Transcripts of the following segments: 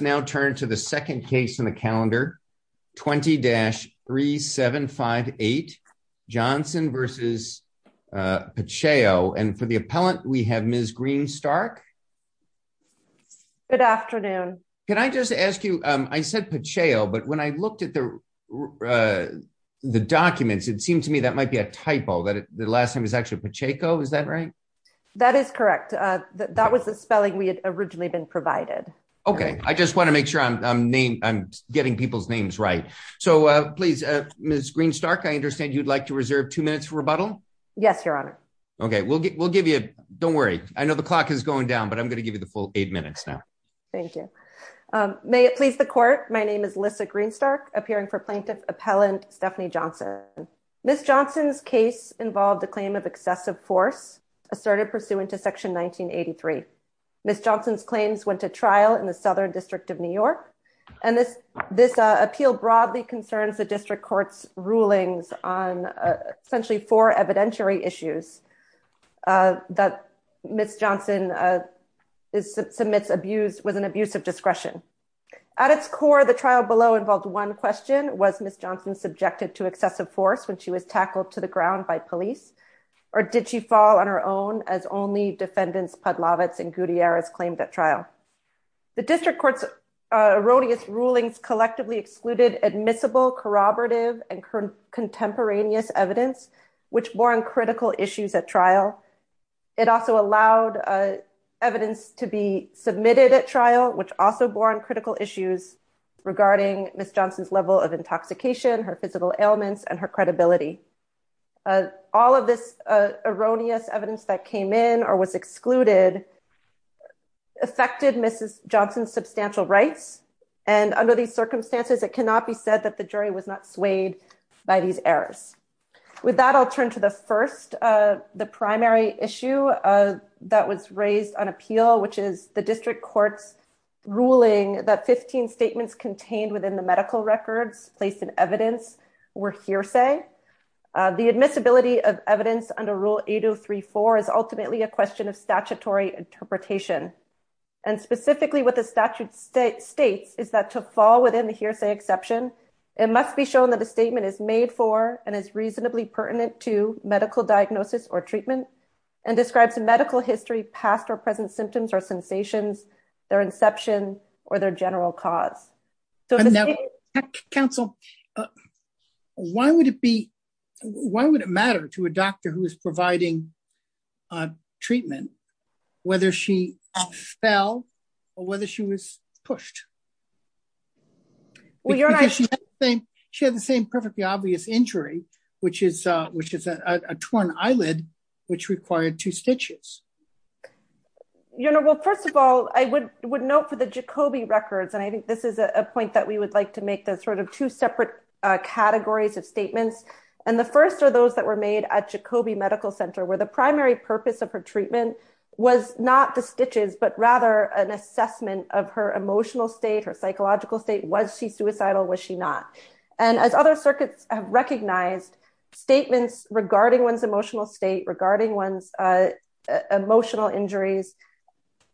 Let's now turn to the second case in the calendar, 20-3758, Johnson v. Pacheo. And for the appellant, we have Ms. Green-Stark. Good afternoon. Can I just ask you, I said Pacheo, but when I looked at the documents, it seemed to me that might be a typo, that the last name is actually Pacheco, is that right? That is correct. That was the spelling we had originally been provided. Okay. I just want to make sure I'm getting people's names right. So please, Ms. Green-Stark, I understand you'd like to reserve two minutes for rebuttal? Yes, Your Honor. Okay. We'll give you, don't worry. I know the clock is going down, but I'm going to give you the full eight minutes now. Thank you. May it please the court, my name is Lissa Green-Stark, appearing for plaintiff appellant Stephanie Johnson. Ms. Johnson's case involved the claim of excessive force asserted pursuant to section 1983. Ms. Johnson's claims went to trial in the Southern District of New York. And this appeal broadly concerns the district court's rulings on essentially four evidentiary issues that Ms. Johnson submits was an abuse of discretion. At its core, the trial below involved one question, was Ms. Johnson subjected to excessive force when she was as only defendants, Pudlovitz and Gutierrez claimed at trial. The district court's erroneous rulings collectively excluded admissible corroborative and contemporaneous evidence, which born critical issues at trial. It also allowed evidence to be submitted at trial, which also born critical issues regarding Ms. Johnson's level of intoxication, her physical evidence that came in or was excluded affected Mrs. Johnson's substantial rights. And under these circumstances, it cannot be said that the jury was not swayed by these errors. With that, I'll turn to the first, the primary issue that was raised on appeal, which is the district court's ruling that 15 statements contained within the medical records placed in evidence were hearsay. The admissibility of evidence under rule 8034 is ultimately a question of statutory interpretation. And specifically what the statute state states is that to fall within the hearsay exception, it must be shown that the statement is made for and is reasonably pertinent to medical diagnosis or treatment and describes a medical history past or present symptoms or sensations, their inception, or their general cause. Counsel, why would it be? Why would it matter to a doctor who is providing treatment, whether she fell, or whether she was pushed? She had the same perfectly obvious injury, which is, which is a torn eyelid, which required two would note for the Jacobi records, and I think this is a point that we would like to make the sort of two separate categories of statements. And the first are those that were made at Jacobi Medical Center, where the primary purpose of her treatment was not the stitches, but rather an assessment of her emotional state or psychological state. Was she suicidal? Was she not? And as other circuits have recognized statements regarding one's emotional state regarding one's emotional injuries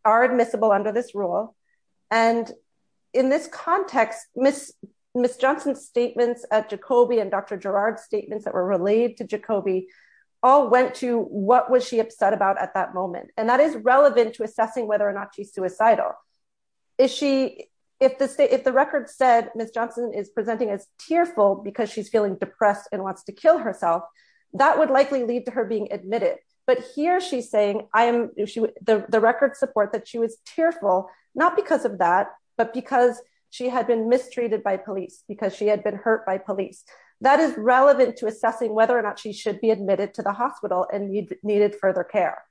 are admissible under this rule. And in this context, Miss Johnson's statements at Jacobi and Dr. Gerard's statements that were relayed to Jacobi all went to what was she upset about at that moment. And that is relevant to assessing whether or not she's suicidal. Is she, if the state, if the record said Miss Johnson is presenting as tearful because she's feeling depressed and wants to kill herself, that would likely lead to her being admitted. But here she's saying, I am the record support that she was tearful, not because of that, but because she had been mistreated by police because she had been hurt by police. That is relevant to assessing whether or not she should be admitted to the hospital and needed further care.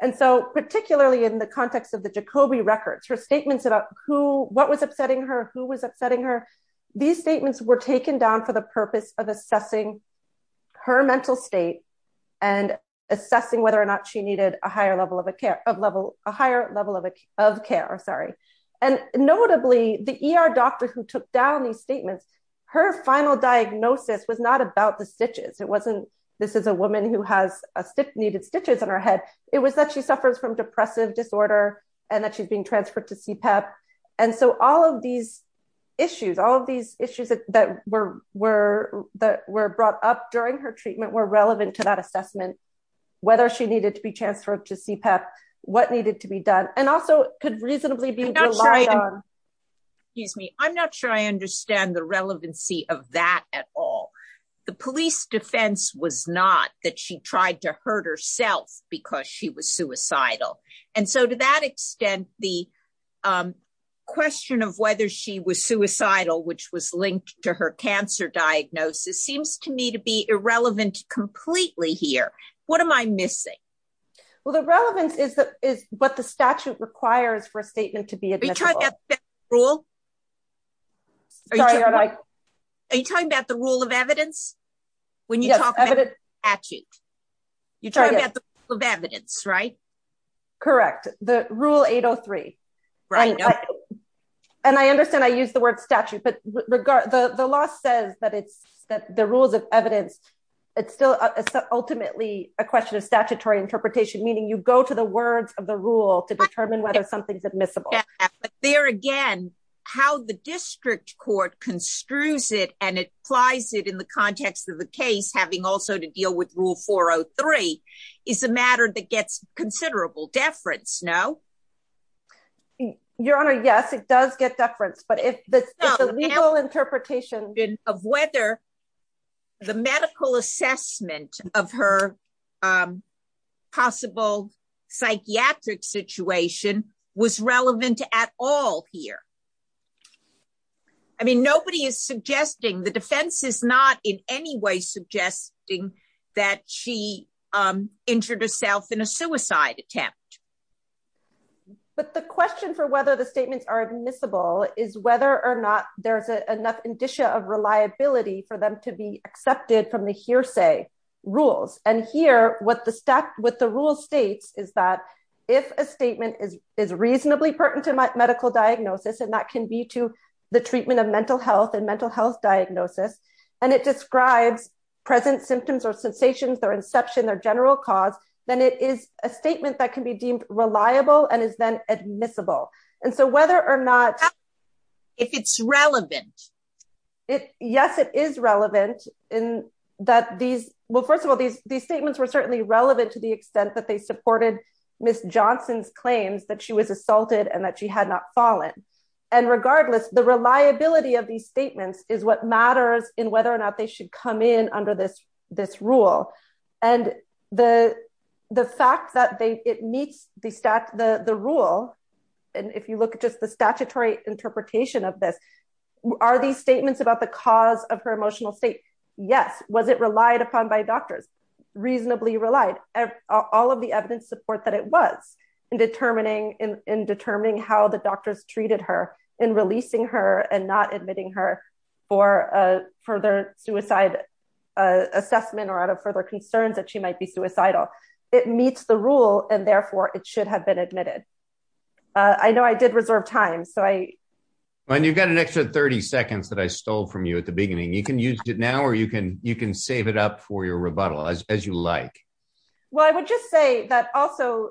And so, particularly in the context of the Jacobi records, her statements about who, what was upsetting her, who was upsetting her. These statements were taken down for the purpose of assessing her mental state and assessing whether or not she needed a higher level of a care of level, a higher level of, of care, sorry. And notably the ER doctor who took down these statements, her final diagnosis was not about the stitches. It wasn't, this is a woman who has a stick needed stitches on her head. It was that she suffers from depressive disorder and that she's being CPEP. And so all of these issues, all of these issues that were, were, that were brought up during her treatment were relevant to that assessment, whether she needed to be transferred to CPEP, what needed to be done. And also could reasonably be relied on, excuse me. I'm not sure I understand the relevancy of that at all. The police defense was not that she tried to hurt herself because she was suicidal. And so to that extent, the question of whether she was suicidal, which was linked to her cancer diagnosis seems to me to be irrelevant completely here. What am I missing? Well, the relevance is the, is what the statute requires for a statement to be admissible. Are you talking about the rule of evidence when you talk about the statute? You're talking about the rule of evidence, right? Correct. The rule 803. And I understand I use the word statute, but regard the law says that it's that the rules of evidence, it's still ultimately a question of statutory interpretation, meaning you go to the words of the rule to determine whether something's admissible. There again, how the district court construes it and applies it in the context of the case, having also to deal with rule 403 is a matter that gets considerable deference. No. Your honor. Yes, it does get deference, but if the legal interpretation of whether the medical assessment of her possible psychiatric situation was relevant at all here. I mean, nobody is suggesting the defense is not in any way suggesting that she injured herself in a suicide attempt, but the question for whether the statements are admissible is whether or not there's enough indicia of reliability for them to be accepted from the hearsay rules. And here, what the stack with the rule States is that if a statement is, is reasonably pertinent to medical diagnosis, and that can be to the treatment of mental health and mental health diagnosis, and it describes present symptoms or sensations, their inception, their general cause, then it is a statement that can be deemed reliable and is then admissible. And so whether or not, if it's relevant, it, yes, it is relevant in that these, well, first of all, these, these statements were certainly relevant to the extent that they and that she had not fallen. And regardless, the reliability of these statements is what matters in whether or not they should come in under this, this rule. And the, the fact that they, it meets the stack, the, the rule. And if you look at just the statutory interpretation of this, are these statements about the cause of her emotional state? Yes. Was it relied upon by reasonably relied all of the evidence support that it was in determining in, in determining how the doctors treated her and releasing her and not admitting her for a further suicide assessment or out of further concerns that she might be suicidal. It meets the rule and therefore it should have been admitted. I know I did reserve time. So I. And you've got an extra 30 seconds that I stole from you at the beginning. You can use it now, or you can, you can save it up for your rebuttal as you like. Well, I would just say that also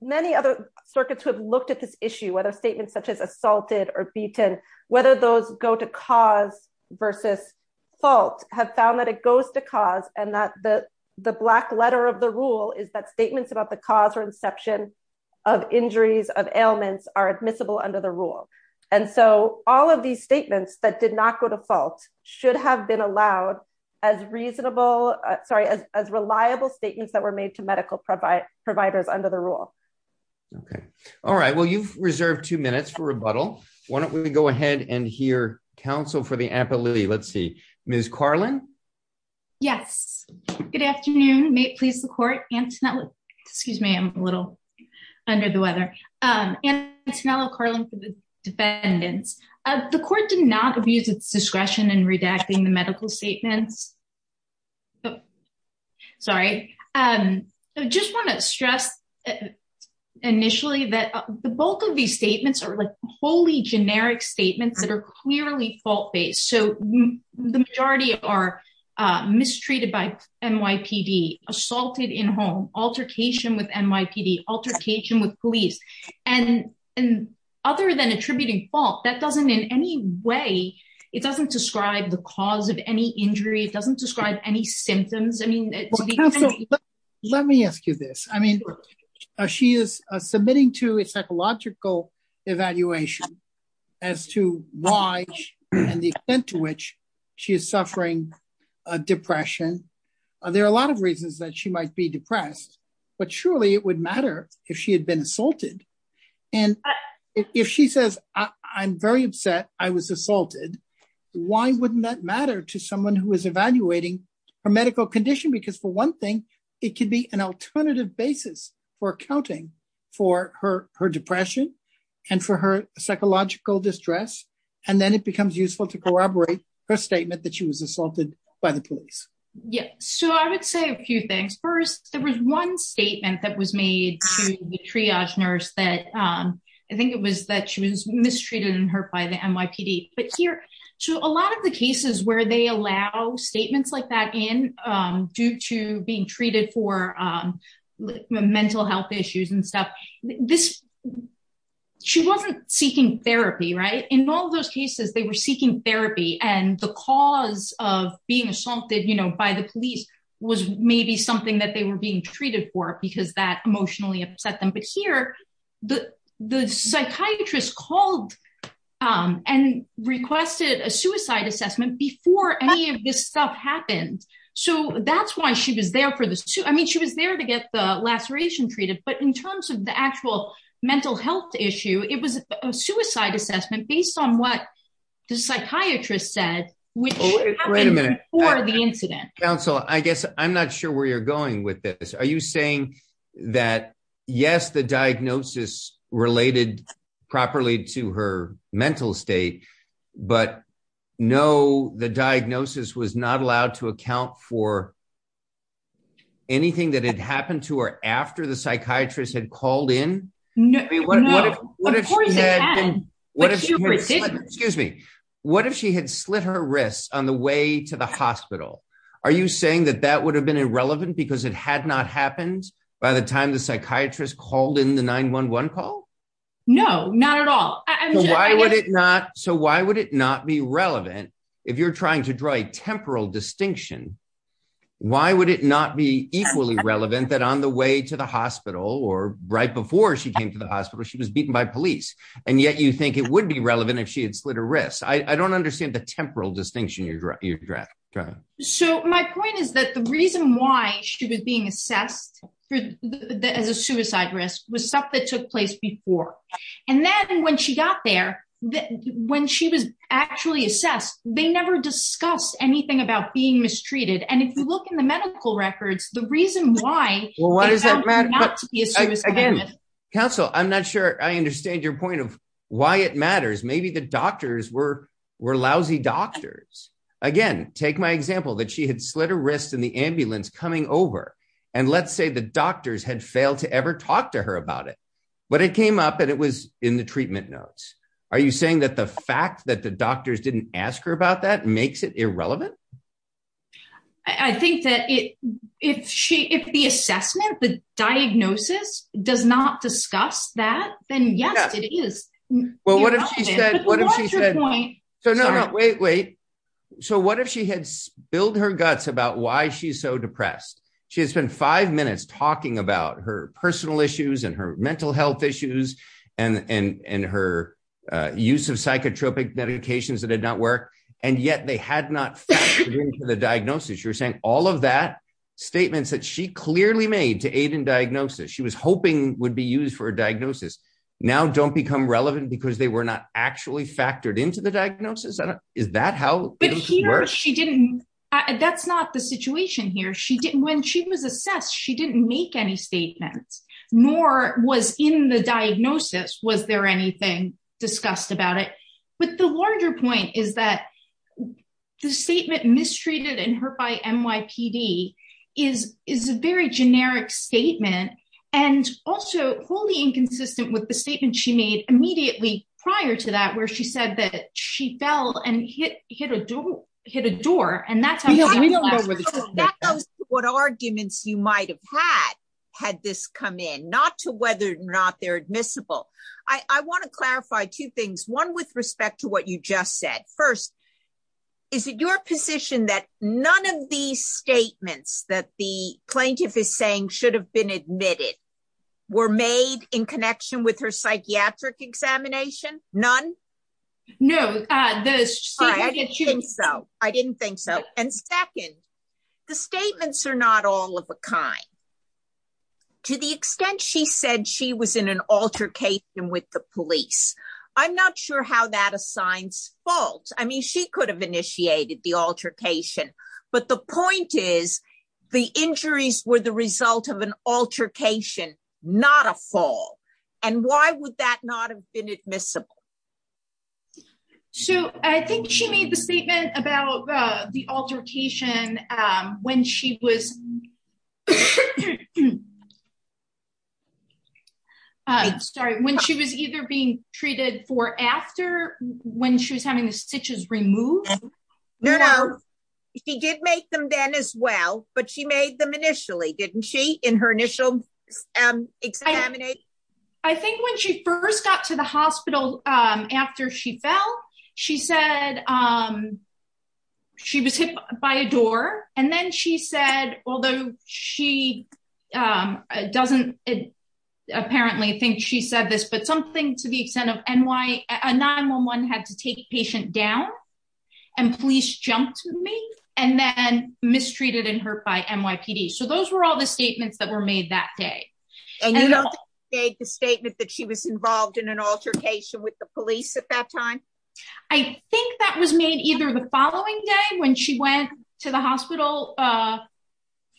many other circuits have looked at this issue, whether statements such as assaulted or beaten, whether those go to cause versus fault have found that it goes to cause and that the, the black letter of the rule is that statements about the cause or inception of injuries of ailments are admissible under the rule. And so all of these statements that did not go to fault should have been allowed as reasonable, sorry, as, as reliable statements that were made to medical provide providers under the rule. Okay. All right. Well, you've reserved two minutes for rebuttal. Why don't we go ahead and hear counsel for the appellee? Let's see. Ms. Carlin. Yes. Good afternoon. May it please the court. Antoinette, excuse me. I'm a little under the Antoinette Carlin for the defendants. The court did not abuse its discretion in redacting the medical statements. Sorry. I just want to stress initially that the bulk of these statements are like wholly generic statements that are clearly fault-based. So the majority are mistreated by altercation with police and other than attributing fault that doesn't in any way, it doesn't describe the cause of any injury. It doesn't describe any symptoms. I mean, let me ask you this. I mean, she is submitting to a psychological evaluation as to why and the extent to which she is suffering a depression. There are a lot of reasons that she might be depressed, but surely it would matter if she had been assaulted. And if she says, I'm very upset, I was assaulted. Why wouldn't that matter to someone who is evaluating her medical condition? Because for one thing, it could be an alternative basis for accounting for her depression and for her psychological distress. And then it becomes useful to corroborate her statement that she was that was made to the triage nurse that I think it was that she was mistreated and hurt by the NYPD. But here, so a lot of the cases where they allow statements like that in due to being treated for mental health issues and stuff, this, she wasn't seeking therapy, right? In all those cases, they were seeking therapy and the cause of being assaulted by the police was maybe something that they were being treated for because that emotionally upset them. But here, the, the psychiatrist called and requested a suicide assessment before any of this stuff happened. So that's why she was there for this too. I mean, she was there to get the laceration treated, but in terms of the actual mental health issue, it was a suicide assessment based on what the psychiatrist said, which happened before the incident. Counsel, I guess I'm not sure where you're going with this. Are you saying that, yes, the diagnosis related properly to her mental state, but no, the diagnosis was not allowed to account for anything that had happened to her after the psychiatrist had called in? No, no, of course it can. Excuse me. What if she had slit her wrists on the way to the hospital? Are you saying that that would have been irrelevant because it had not happened by the time the psychiatrist called in the 911 call? No, not at all. So why would it not? So why would it not be relevant if you're trying to draw a temporal distinction? Why would it not be equally relevant that on the way to the hospital or right before she came to the hospital, she was beaten by police. And yet you think it would be relevant if she had slit her wrists. I don't understand the temporal distinction you're trying to draw. So my point is that the reason why she was being assessed as a suicide risk was stuff that took place before. And then when she got there, when she was actually assessed, they never discussed anything about being mistreated. And if you look in the medical history, again, counsel, I'm not sure I understand your point of why it matters. Maybe the doctors were lousy doctors. Again, take my example that she had slit her wrists in the ambulance coming over. And let's say the doctors had failed to ever talk to her about it, but it came up and it was in the treatment notes. Are you saying that the fact that the doctors didn't ask her about that makes it irrelevant? I think that if she, if the assessment, the diagnosis does not discuss that, then yes, it is. Well, what if she said, so no, no, wait, wait. So what if she had spilled her guts about why she's so depressed? She has spent five minutes talking about her personal issues and her mental health issues and, and, and her use of psychotropic medications that had not worked. And yet they had not factored into the diagnosis. You're saying all of that statements that she clearly made to aid in diagnosis, she was hoping would be used for a diagnosis. Now don't become relevant because they were not actually factored into the diagnosis. Is that how it works? She didn't, that's not the situation here. She didn't, when she was assessed, she didn't make any statements nor was in the diagnosis. Was there anything discussed about it? But the larger point is that the statement mistreated and hurt by NYPD is, is a very generic statement and also wholly inconsistent with the statement she made immediately prior to that, where she said that she fell and hit, hit a door, hit a door. And that's how we don't know what arguments you might have had, had this come in, not to whether or not they're admissible. I want to clarify two things, one with respect to what you just said. First, is it your position that none of these statements that the plaintiff is saying should have been admitted were made in connection with her psychiatric examination? None? No. I didn't think so. I didn't think so. And second, the statements are not all of a kind. To the extent she said she was in an altercation with the police, I'm not sure how that assigns fault. I mean, she could have initiated the altercation, but the point is the injuries were the result of an altercation, not a fall. And why would that not have been admissible? So I think she made the statement about the altercation when she was sorry, when she was either being treated for after when she was having the stitches removed. No, no. She did make them then as well, but she made them initially, didn't she, in her initial examination? I think when she first got to the hospital after she fell, she said she was hit by a door. And then she said, although she doesn't apparently think she said this, but something to the extent of a 911 had to take a patient down and police jumped to me and then mistreated and hurt by NYPD. So those were all the statements that were made that day. And you don't think she made the statement that she was involved in an altercation with the police at that time? I think that was made either the following day when she went to the hospital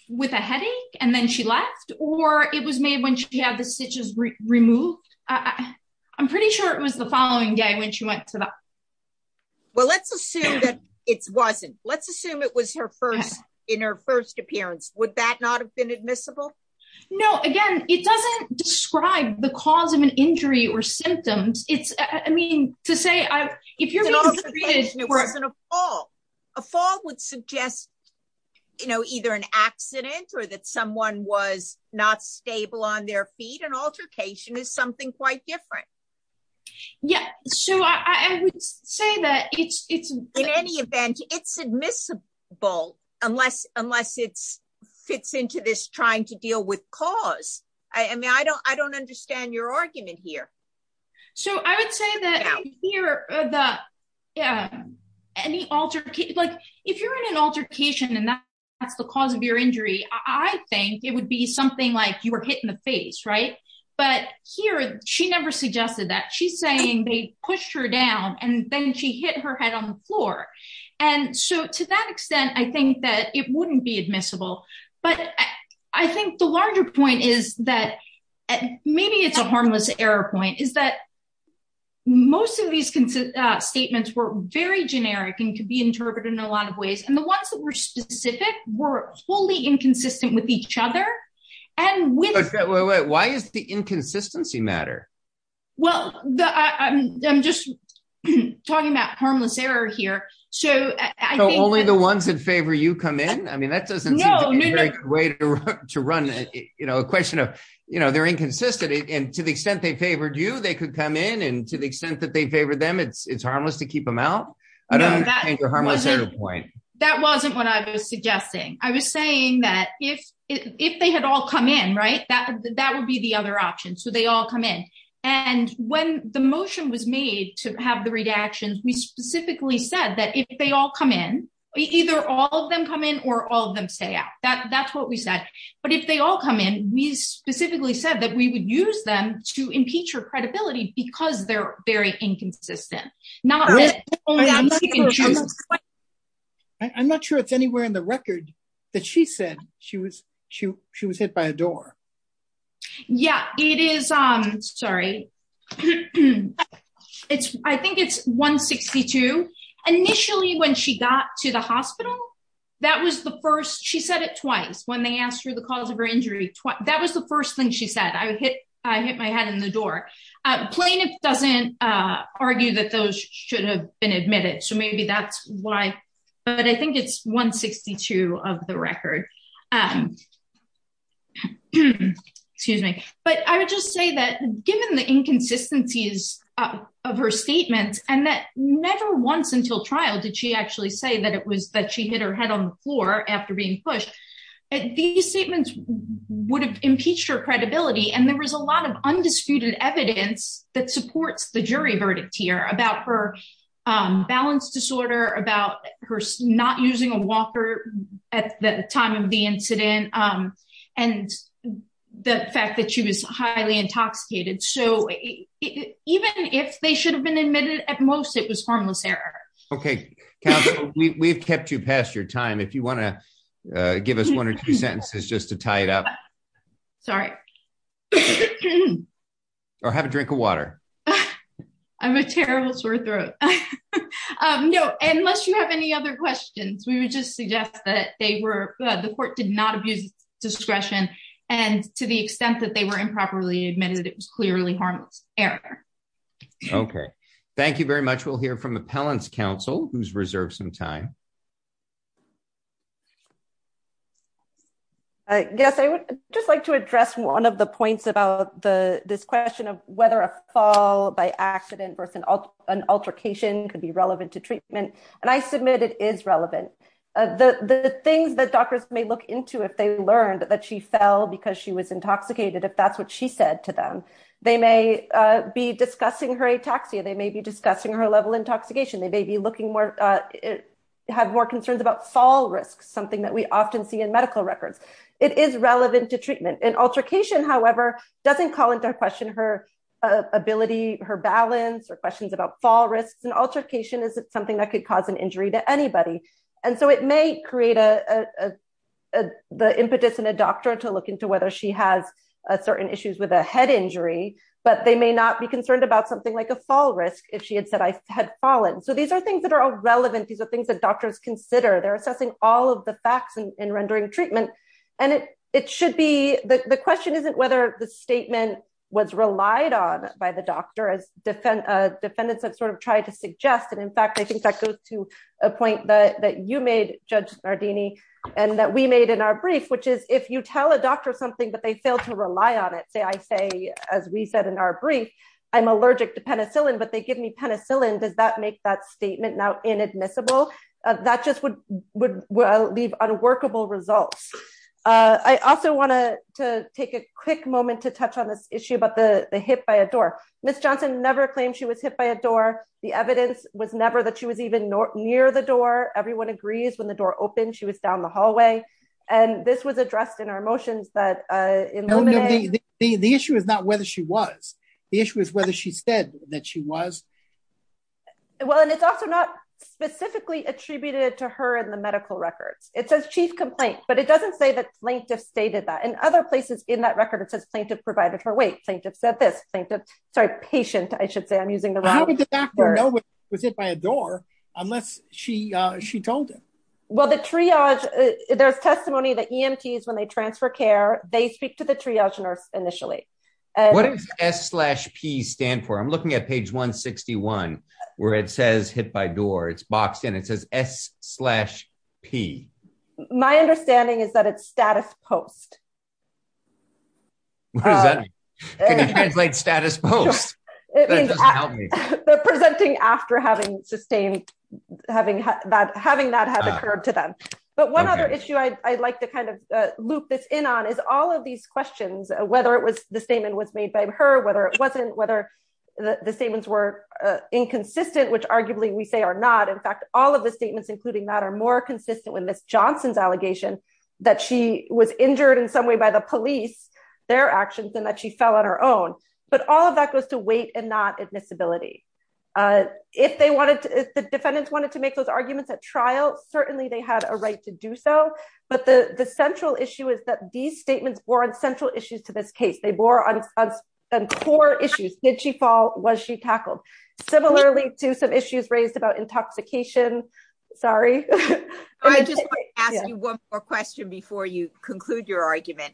with a headache and then she left, or it was made when she had the stitches removed. I'm pretty sure it was the following day when she went to the hospital. Well, let's assume that it wasn't. Let's assume it was in her first appearance. Would that not have been admissible? No, again, it doesn't describe the cause of an injury or symptoms. It's, I mean, to say, if you're being treated... It wasn't a fall. A fall would suggest, you know, either an accident or that someone was not stable on their feet. An altercation is something quite different. Yeah. So I would say that it's... In any event, it's admissible unless it fits into this trying to deal with cause. I mean, I don't understand your argument here. So I would say that here, any altercation, like if you're in an altercation and that's the cause of your injury, I think it would be something like you were hit in the face, right? But here, she never suggested that. She's pushed her down and then she hit her head on the floor. And so to that extent, I think that it wouldn't be admissible. But I think the larger point is that maybe it's a harmless error point, is that most of these statements were very generic and could be interpreted in a lot of ways. And the ones that were specific were fully inconsistent with each other. And with... Wait, wait, wait. Why is the inconsistency matter? Well, I'm just talking about harmless error here. So only the ones that favor you come in? I mean, that doesn't seem to be a very good way to run a question of they're inconsistent. And to the extent they favored you, they could come in. And to the extent that they favor them, it's harmless to keep them out. I don't understand your harmless error point. That wasn't what I was suggesting. I was saying that if they had all come in, that would be the other option. So they all come in. And when the motion was made to have the redactions, we specifically said that if they all come in, either all of them come in or all of them stay out. That's what we said. But if they all come in, we specifically said that we would use them to impeach her credibility because they're very inconsistent. I'm not sure it's anywhere in the record that she said she was she was hit by a door. Yeah, it is. I'm sorry. It's I think it's 162. Initially, when she got to the hospital, that was the first she said it twice when they asked her the cause of her injury. That was the first thing she said. I hit I hit my head in the door. Plaintiff doesn't argue that those should have been admitted. So maybe that's why. But I think it's 162 of the record. Excuse me. But I would just say that given the inconsistencies of her statement and that never once until trial did she actually say that it was that she hit her head on the floor after being pushed. These statements would have impeached her credibility. And there was a lot of undisputed evidence that supports the jury verdict here about her balance disorder, about her not using a walker at the time of the incident and the fact that she was highly intoxicated. So even if they should have been admitted, at most it was harmless error. OK, we've kept you past your time. If you want to give us one or two sentences just to tie it up. Sorry. OK. Or have a drink of water. I'm a terrible sore throat. No, unless you have any other questions, we would just suggest that they were the court did not abuse discretion. And to the extent that they were improperly admitted, it was clearly harmless error. OK, thank you very much. We'll hear from the appellant's counsel who's reserved some time. I guess I would just like to address one of the points about this question of whether a fall by accident versus an altercation could be relevant to treatment. And I submit it is relevant. The things that doctors may look into if they learned that she fell because she was intoxicated, if that's what she said to them, they may be discussing her ataxia. They may be have more concerns about fall risk, something that we often see in medical records. It is relevant to treatment. An altercation, however, doesn't call into question her ability, her balance or questions about fall risks. An altercation is something that could cause an injury to anybody. And so it may create a the impetus in a doctor to look into whether she has certain issues with a head injury. But they may not be concerned about something like a fall risk if she had said I had fallen. So these are things that are all relevant. These are things that doctors consider. They're assessing all of the facts and rendering treatment. And it should be the question isn't whether the statement was relied on by the doctor as defendants have sort of tried to suggest. And in fact, I think that goes to a point that you made, Judge Nardini, and that we made in our brief, which is if you tell a doctor something, but they fail to rely on it. Say I say, as we said in our brief, I'm allergic to penicillin, but they give me penicillin. Does that make that statement now inadmissible? That just would leave unworkable results. I also want to take a quick moment to touch on this issue about the hit by a door. Ms. Johnson never claimed she was hit by a door. The evidence was never that she was even near the door. Everyone agrees when the door opened, she was down the hallway. And this was addressed in our motions that the issue is not whether she was the issue is whether she said that she was. Well, and it's also not specifically attributed to her in the medical records. It says chief complaint, but it doesn't say that plaintiff stated that in other places in that record, it says plaintiff provided her weight plaintiff said this plaintiff, sorry, patient, I should say I'm using the back door. No one was hit by a door unless she she told him. Well, the triage, there's testimony that EMTs when they transfer care, they speak to the triage nurse initially. What does s slash p stand for? I'm looking at page 161, where it says hit by door, it's boxed in, it says s slash p. My understanding is that it's status post. What does that mean? Can you translate status post? It means presenting after having sustained, having that having that has occurred to them. But one other issue I'd like to kind of loop this in on is all of these questions, whether it was the statement was made by her whether it wasn't whether the statements were inconsistent, which arguably we say are not in fact, all of the statements, including that are more consistent with Miss Johnson's allegation that she was injured in some way by the police, their actions and that she fell on her own. But all of that goes to weight and not admissibility. If they wanted to, if the defendants wanted to make those arguments at trial, certainly they had a right to do so. But the central issue is that these statements were on central issues to this case, they bore on core issues, did she fall? Was she tackled? Similarly to some issues raised about intoxication? Sorry. I just want to ask you one more question before you conclude your argument.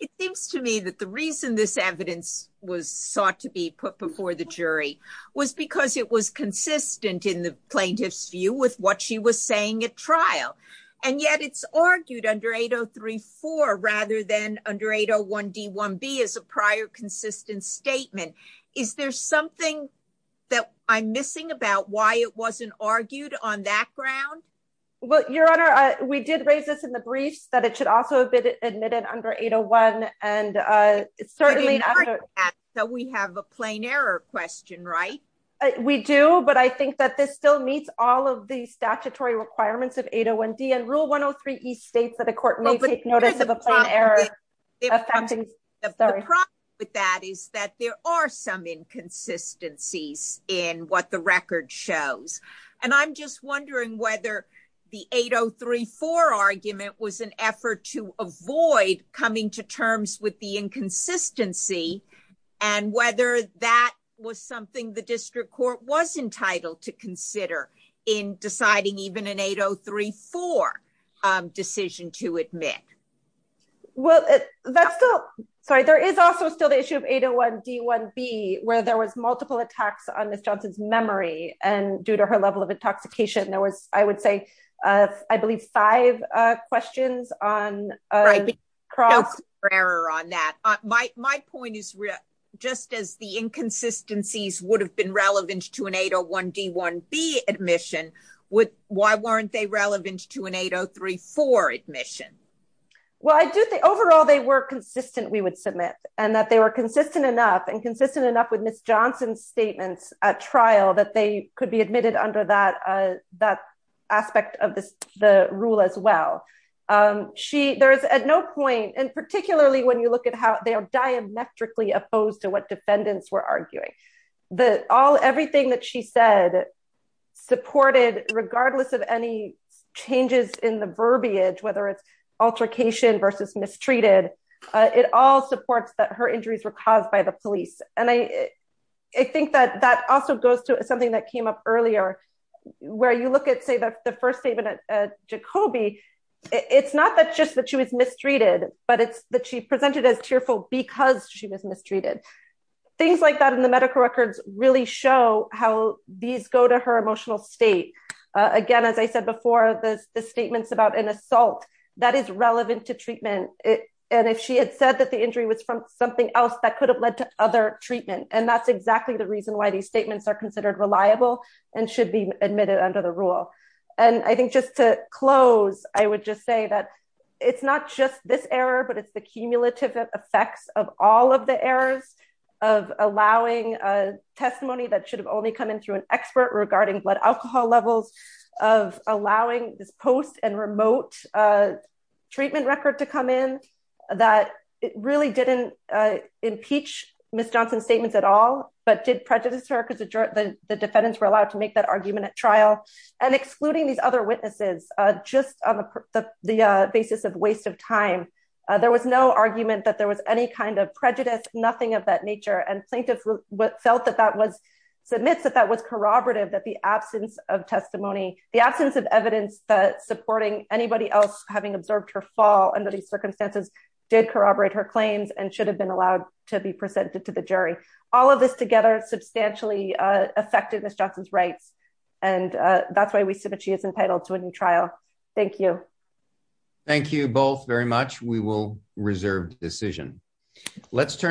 It seems to me that the reason this evidence was sought to be put before the jury was because it was consistent in the plaintiff's view with what she was saying at trial. And yet it's argued under 8034 rather than under 801 D one B as a prior consistent statement. Is there something that I'm missing about why it wasn't argued on that ground? Well, Your Honor, we did raise this in the briefs that it should also have been admitted under 801. And it's certainly so we have a plain error question, right? We do. But I think that this still meets all of the statutory requirements of 801 D and rule 103 East states that a court may take notice of a plan error. But that is that there are some inconsistencies in what the record shows. And I'm just wondering whether the 8034 argument was an effort to avoid coming to terms with the inconsistency and whether that was something the district court was entitled to consider in deciding even an 8034 decision to admit. Well, that's still sorry, there is also still the issue of 801 D one B, where there was multiple attacks on Miss Johnson's memory. And due to her level of intoxication, there was, I would say, I believe, five questions on cross error on that. My point is, just as the inconsistencies would have been relevant to an 801 D one B admission with why weren't they relevant to an 803 for admission? Well, I do think overall, they were consistent, we would submit and that they were consistent enough and consistent enough with Miss Johnson's statements at trial that they could be admitted under that, that aspect of this, the rule as well. She there's at no point and particularly when you look at how they are diametrically opposed to what defendants were arguing, that all everything that she said, supported regardless of any changes in the verbiage, whether it's altercation versus mistreated, it all supports that her injuries were caused by the police. And I think that that also goes to something that came up earlier, where you look at, say, the first statement at Jacoby, it's not that just that she was mistreated, but it's that she presented as tearful because she was mistreated. Things like that in the medical records really show how these go to her emotional state. Again, as I said before, the statements about an assault that is relevant to treatment. And if she had said that the injury was from something else that could have led to other treatment. And that's exactly the reason why these statements are considered reliable and should be admitted under the rule. And I think just to close, I would just say that it's not just this error, but it's the cumulative effects of all of the errors of allowing a levels of allowing this post and remote treatment record to come in, that it really didn't impeach Miss Johnson's statements at all, but did prejudice her because the defendants were allowed to make that argument at trial and excluding these other witnesses, just on the basis of waste of time. There was no argument that there was any kind of prejudice, nothing of that nature. And the absence of evidence that supporting anybody else, having observed her fall under these circumstances did corroborate her claims and should have been allowed to be presented to the jury. All of this together substantially affected Miss Johnson's rights. And that's why we submit she is entitled to a new trial. Thank you. Thank you both very much. We will reserve decision. Let's turn.